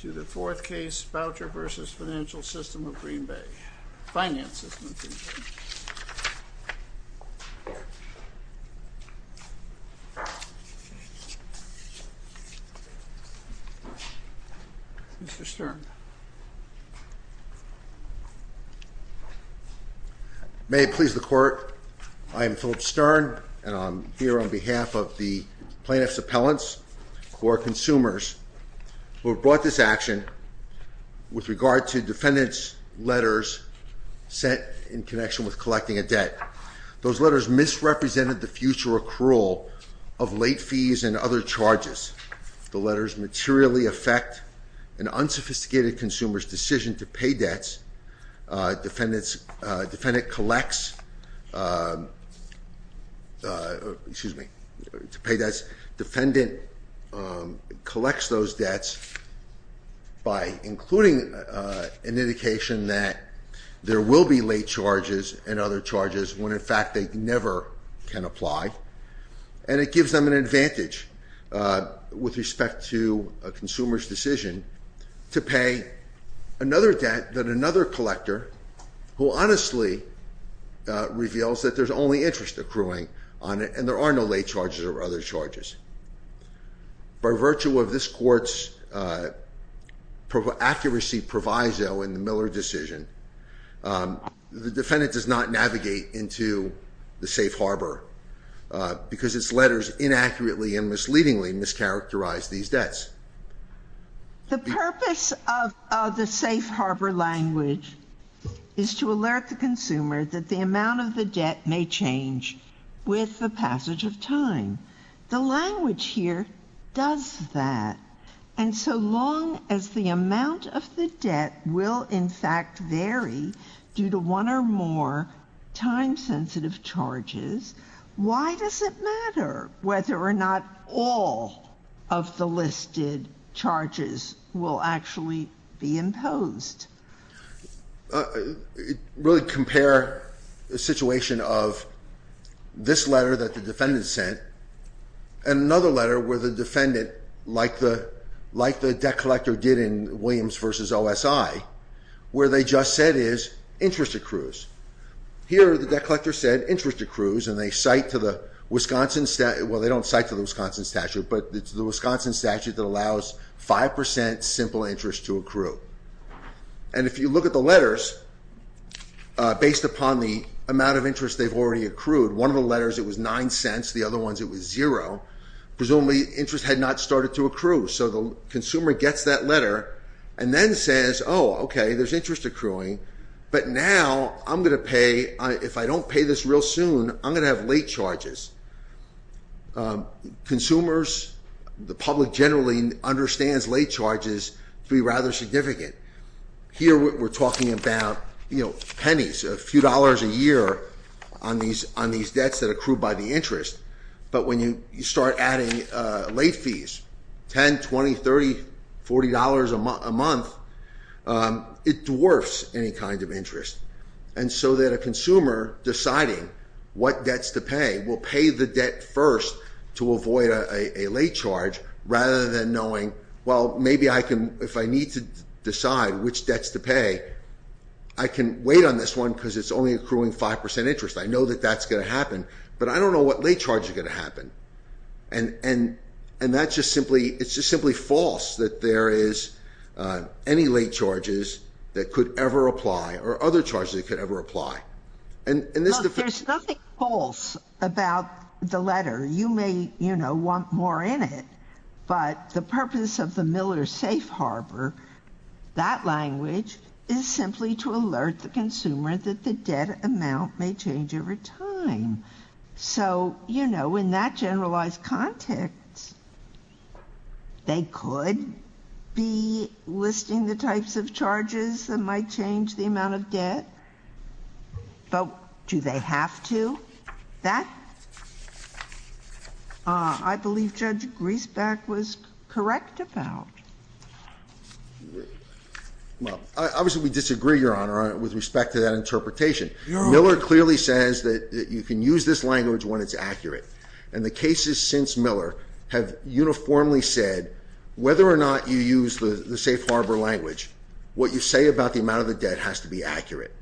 To the fourth case, Boucher v. Financial System of Green Bay, Finance System of Green Bay, Mr. Stern. May it please the Court, I am Philip Stern and I'm here on behalf of the We've brought this action with regard to defendant's letters sent in connection with collecting a debt. Those letters misrepresented the future accrual of late fees and other charges. The letters materially affect an unsophisticated consumer's decision to pay debts. Defendant collects, excuse me, to pay debts. Defendant collects those debts by including an indication that there will be late charges and other charges when in fact they never can apply. And it gives them an advantage with respect to a consumer's decision to pay another debt that another collector who honestly reveals that there's only interest accruing on it. And there are no late charges or other charges. By virtue of this court's accuracy proviso in the Miller decision, the defendant does not navigate into the safe harbor because its letters inaccurately and misleadingly mischaracterize these debts. The purpose of the safe harbor language is to alert the consumer that the amount of the debt may change with the passage of time. The language here does that. And so long as the amount of the debt will in fact vary due to one or more time-sensitive charges, why does it matter whether or not all of the listed charges will actually be imposed? It really compares the situation of this letter that the defendant sent and another letter where the defendant, like the debt collector did in Williams v. OSI, where they just said is interest accrues. Here, the debt collector said interest accrues and they cite to the Wisconsin statute. Well, they don't cite to the Wisconsin statute, but it's the Wisconsin statute that allows 5% simple interest to accrue. And if you look at the letters, based upon the amount of interest they've already accrued, one of the letters it was nine cents, the other ones it was zero. Presumably interest had not started to accrue. So the consumer gets that letter and then says, oh, okay, there's interest accruing, but now I'm going to pay, if I don't pay this real soon, I'm going to have late charges. Consumers, the public generally understands late charges to be rather significant. Here we're talking about pennies, a few dollars a year on these debts that accrue by the interest. But when you start adding late fees, 10, 20, 30, $40 a month, it dwarfs any kind of interest. And so that a consumer deciding what debts to pay will pay the debt first to avoid a late charge rather than knowing, well, maybe I can, if I need to decide which debts to pay, I can wait on this one because it's only accruing 5% interest. I know that that's going to happen, but I don't know what late charge is going to happen. And that's just simply, it's just simply false that there is any late charges that could ever apply or other charges that could ever apply. And this is the- There's nothing false about the letter. You may want more in it, but the purpose of the Miller Safe Harbor, that language is simply to alert the consumer that the debt amount may change over time. So in that generalized context, they could be listing the types of charges that might change the amount of debt. But do they have to? That, I believe Judge Griesback was correct about. Well, obviously we disagree, Your Honor, with respect to that interpretation. Miller clearly says that you can use this language when it's accurate. And the cases since Miller have uniformly said whether or not you use the safe harbor language, what you say about the amount of the debt has to be accurate.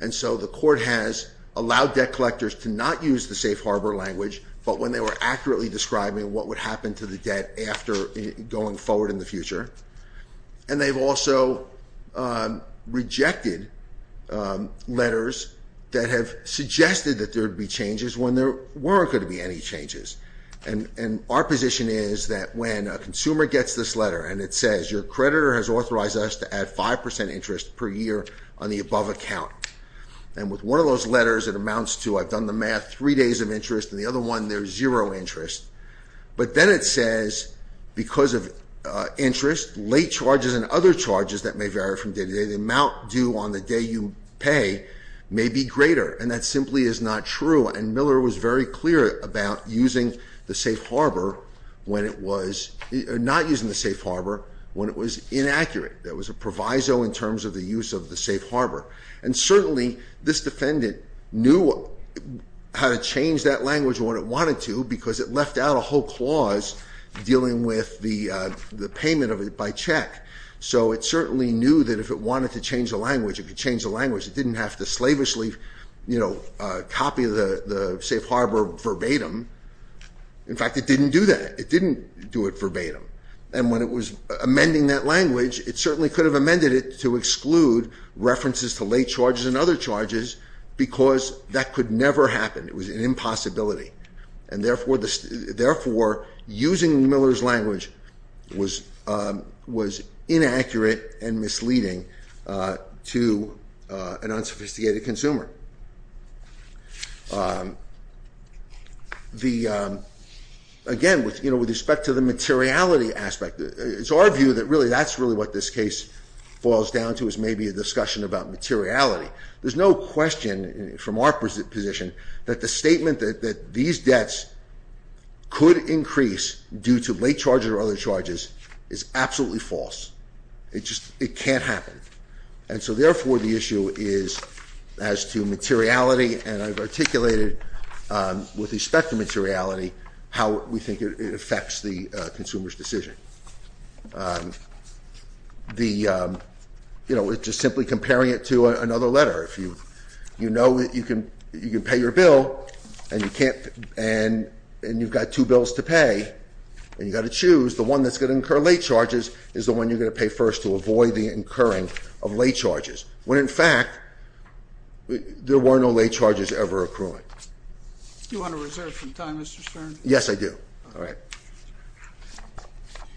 And so the court has allowed debt collectors to not use the safe harbor language, but when they were accurately describing what would happen to the debt after going forward in the future. And they've also rejected letters that have made any changes, and our position is that when a consumer gets this letter and it says, your creditor has authorized us to add 5% interest per year on the above account. And with one of those letters, it amounts to, I've done the math, three days of interest, and the other one, there's zero interest. But then it says, because of interest, late charges and other charges that may vary from day to day, the amount due on the day you pay may be greater. And that simply is not true. And Miller was very clear about using the safe harbor when it was, or not using the safe harbor when it was inaccurate. There was a proviso in terms of the use of the safe harbor. And certainly, this defendant knew how to change that language when it wanted to, because it left out a whole clause dealing with the payment of it by check. So it certainly knew that if it wanted to change the language, it could change the language. It didn't have to slavishly copy the safe harbor verbatim. In fact, it didn't do that. It didn't do it verbatim. And when it was amending that language, it certainly could have amended it to exclude references to late charges and other charges, because that could never happen. It was an impossibility. And therefore, using Miller's language was inaccurate and misleading to an unsophisticated consumer. Again, with respect to the materiality aspect, it's our view that really, that's really what this case boils down to is maybe a discussion about materiality. There's no question from our position that the statement that these debts could increase due to late charges or other charges is absolutely false. It just, it can't happen. And so therefore, the issue is as to materiality, and I've articulated with respect to materiality, how we think it affects the consumer's decision. The, you know, just simply comparing it to another letter. If you know that you can pay your bill and you can't, and you've got two bills to pay, and you've got to choose, the one that's going to incur late charges is the one you're going to pay first to avoid the incurring of late charges. When in fact, there were no late charges ever accruing. You want to reserve some time, Mr. Stern? Yes, I do. All right.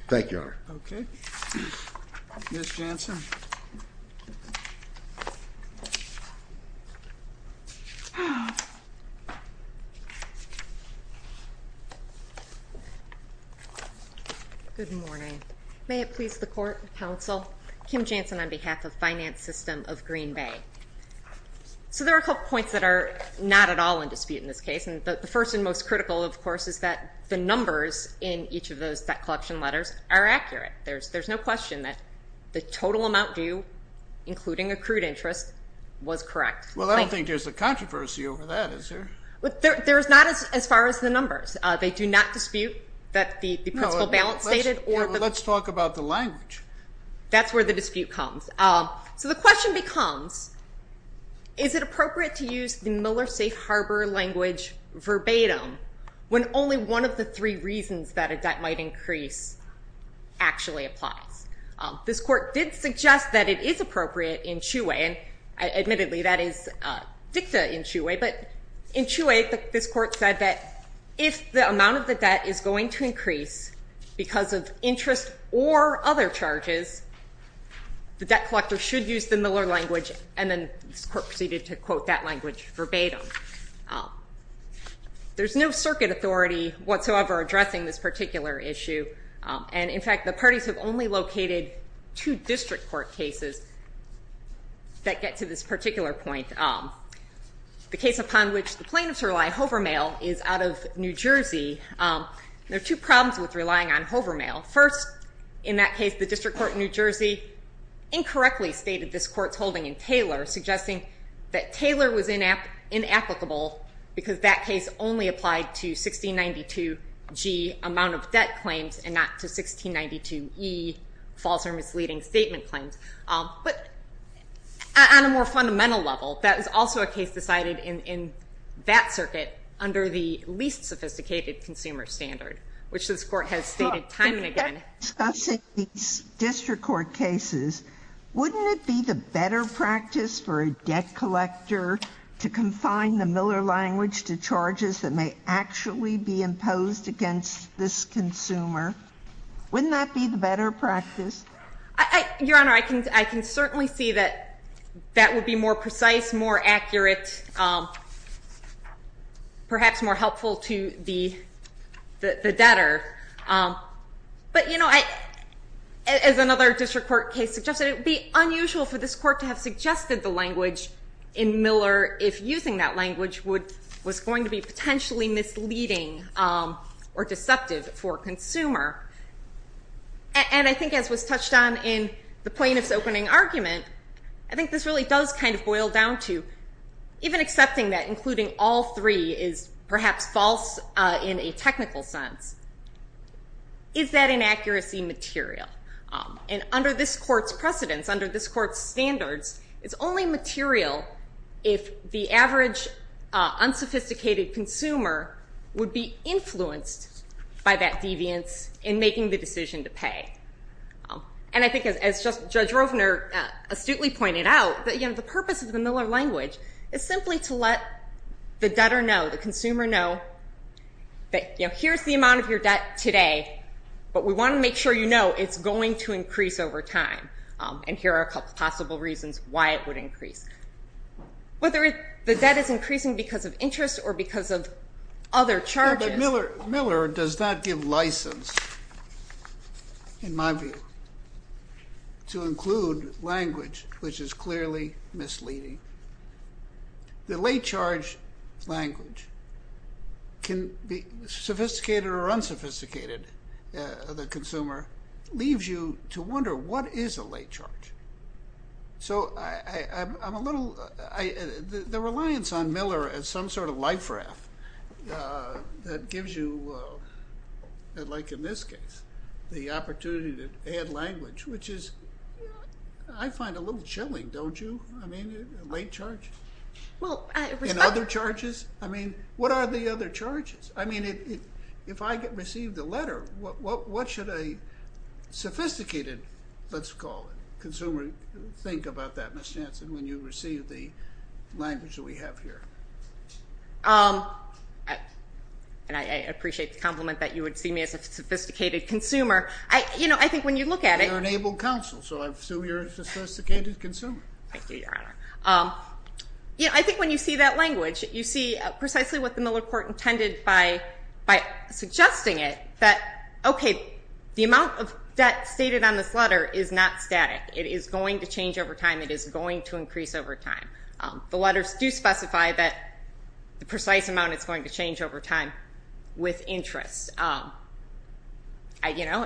Thank you, Your Honor. Okay. Ms. Janssen? Good morning. May it please the court, counsel, Kim Janssen on behalf of Finance System of Green Bay. So there are a couple points that are not at all in dispute in this case. And the first and most critical, of course, is that the numbers in each of those debt collection letters are accurate. There's no question that the total amount due, including accrued interest, was correct. Well, I don't think there's a controversy over that, is there? Well, there's not as far as the numbers. They do not dispute that the principal balance stated or the- Let's talk about the language. That's where the dispute comes. So the question becomes, is it appropriate to use the Miller Safe Harbor language verbatim when only one of the three reasons that a debt might increase actually applies? This court did suggest that it is appropriate in Chiu Way. And admittedly, that is dicta in Chiu Way. But in Chiu Way, this court said that if the amount of the debt is going to increase because of interest or other charges, the debt collector should use the Miller language. And then this court proceeded to quote that language verbatim. There's no circuit authority whatsoever addressing this particular issue. And in fact, the parties have only located two district court cases that get to this particular point. The case upon which the plaintiffs rely, Hover Mail, is out of New Jersey. There are two problems with relying on Hover Mail. First, in that case, the district court in New Jersey incorrectly stated this court's holding in Taylor, suggesting that Taylor was inapplicable because that case only applied to 1692G amount of debt claims and not to 1692E false or misleading statement claims. But on a more fundamental level, that is also a case decided in that circuit under the least sophisticated consumer standard, which this court has stated time and again. Discussing these district court cases, wouldn't it be the better practice for a debt collector to confine the Miller language to charges that may actually be imposed against this consumer? Wouldn't that be the better practice? Your Honor, I can certainly see that that would be more precise, more accurate, perhaps more helpful to the debtor. But, you know, as another district court case suggested, it would be unusual for this court to have suggested the language in Miller if using that language was going to be potentially misleading or deceptive for a consumer. And I think as was touched on in the plaintiff's opening argument, I think this really does kind of boil down to even accepting that including all three is perhaps false in a technical sense. Is that inaccuracy material? And under this court's precedence, under this court's standards, it's only material if the average unsophisticated consumer would be influenced by that deviance in making the decision to pay. And I think as Judge Rovner astutely pointed out, you know, the purpose of the Miller language is simply to let the debtor know, the consumer know that, you know, here's the amount of your debt today, but we want to make sure you know it's going to increase over time, and here are a couple of possible reasons why it would increase. Whether the debt is increasing because of interest or because of other charges. Miller does not give license, in my view, to include language which is clearly misleading. The late charge language can be sophisticated or unsophisticated. The consumer leaves you to wonder what is a late charge. So I'm a little, the reliance on Miller as some sort of life raft that gives you, like in this case, the opportunity to add language, which is I find a little chilling, don't you? I mean, late charges. In other charges? I mean, what are the other charges? I mean, if I receive the letter, what should a sophisticated, let's call it, consumer think about that, Ms. Jansen, when you receive the language that we have here? And I appreciate the compliment that you would see me as a sophisticated consumer. I, you know, I think when you look at it. You're an able counsel, so I assume you're a sophisticated consumer. Thank you, Your Honor. You know, I think when you see that language, you see precisely what the Miller court intended by suggesting it. That, okay, the amount of debt stated on this letter is not static. It is going to change over time. It is going to increase over time. The letters do specify that the precise amount is going to change over time with interest. You know,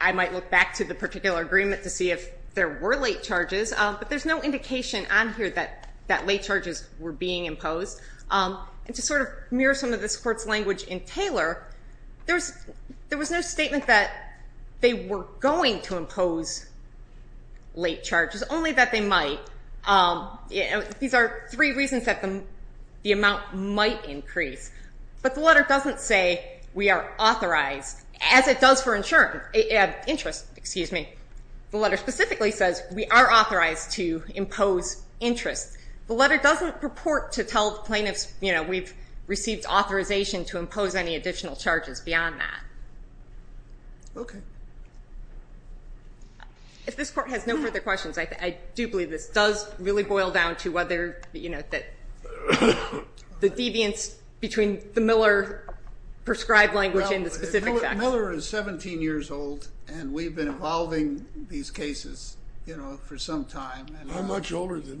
I might look back to the particular agreement to see if there were late charges, but there's no indication on here that late charges were being imposed. And to sort of mirror some of this court's language in Taylor, there was no statement that they were going to impose late charges, only that they might. These are three reasons that the amount might increase. But the letter doesn't say we are authorized, as it does for insurance, interest, excuse me. The letter specifically says we are authorized to impose interest. The letter doesn't purport to tell plaintiffs, you know, we've received authorization to impose any additional charges beyond that. Okay. If this court has no further questions, I do believe this does really boil down to whether, you know, the deviance between the Miller prescribed language and the specific facts. Miller is 17 years old, and we've been evolving these cases, you know, for some time. I'm much older than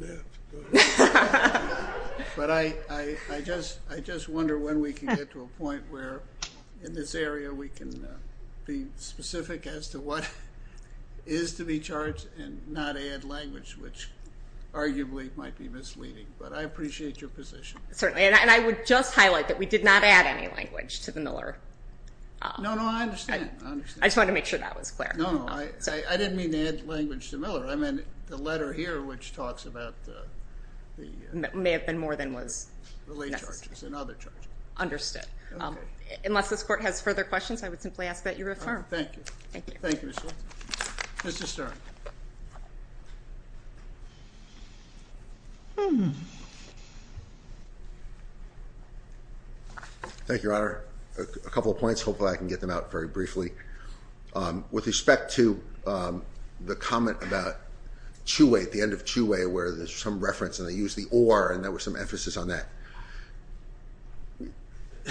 that. But I just wonder when we can get to a point where in this area we can be specific as to what is to be charged and not add language, which arguably might be misleading. But I appreciate your position. Certainly, and I would just highlight that we did not add any language to the Miller. No, no, I understand. I just wanted to make sure that was clear. I mean, the letter here, which talks about the... May have been more than was... Relay charges and other charges. Understood. Unless this court has further questions, I would simply ask that you refer. Thank you. Thank you, Ms. Wilson. Mr. Stern. Thank you, Your Honor. A couple of points. Hopefully I can get them out very briefly. With respect to the comment about Chuey, at the end of Chuey, where there's some reference and they used the or, and there was some emphasis on that.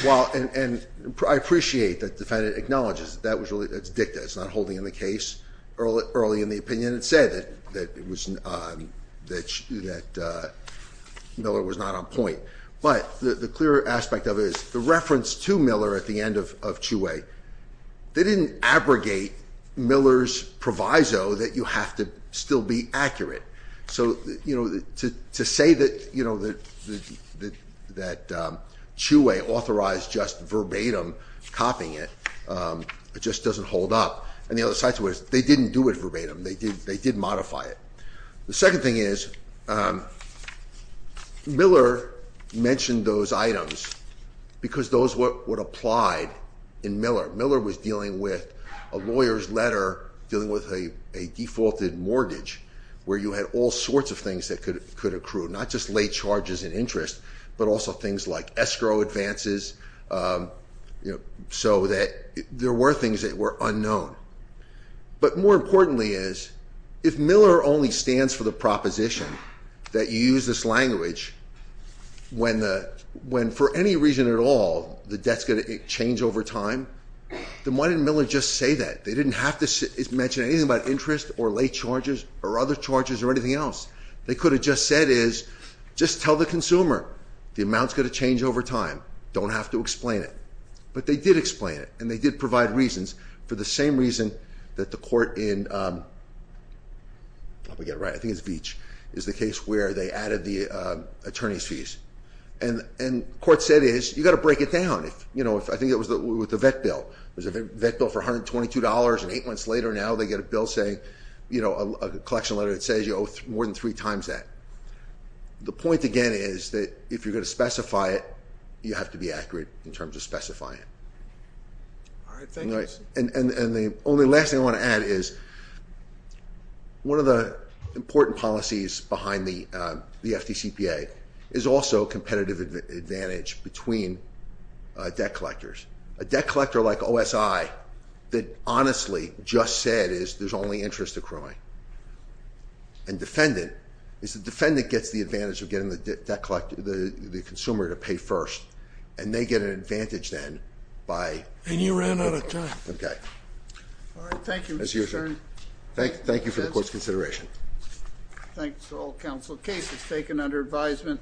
While, and I appreciate that the defendant acknowledges that that was really, that's dicta. It's not holding in the case early in the opinion. It said that it was, that Miller was not on point. But the clear aspect of it is the reference to Miller at the end of Chuey. They didn't abrogate Miller's proviso that you have to still be accurate. So to say that Chuey authorized just verbatim copying it, it just doesn't hold up. And the other side to it is they didn't do it verbatim. They did modify it. The second thing is Miller mentioned those items because those were applied in Miller. Miller was dealing with a lawyer's letter dealing with a defaulted mortgage. Where you had all sorts of things that could accrue. Not just late charges and interest, but also things like escrow advances. So that there were things that were unknown. But more importantly is, if Miller only stands for the proposition that you use this language. When for any reason at all, the debt's going to change over time, then why didn't Miller just say that? They didn't have to mention anything about interest or late charges or other charges or anything else. They could have just said is, just tell the consumer, the amount's going to change over time. Don't have to explain it. But they did explain it, and they did provide reasons for the same reason that the court in, I'll probably get it right, I think it's Veatch, is the case where they added the attorney's fees. And court said is, you gotta break it down. I think it was with the vet bill. It was a vet bill for $122, and eight months later now they get a bill saying, a collection letter that says you owe more than three times that. The point again is that if you're going to specify it, you have to be accurate in terms of specifying it. All right, thank you. And the only last thing I want to add is, one of the important policies behind the FDCPA is also competitive advantage between debt collectors. A debt collector like OSI that honestly just said is, there's only interest accruing. And defendant, is the defendant gets the advantage of getting the debt collector, the consumer to pay first. And they get an advantage then by- And you ran out of time. Okay. All right, thank you. That's your turn. Thank you for the court's consideration. Thanks to all counsel. Case is taken under advisement.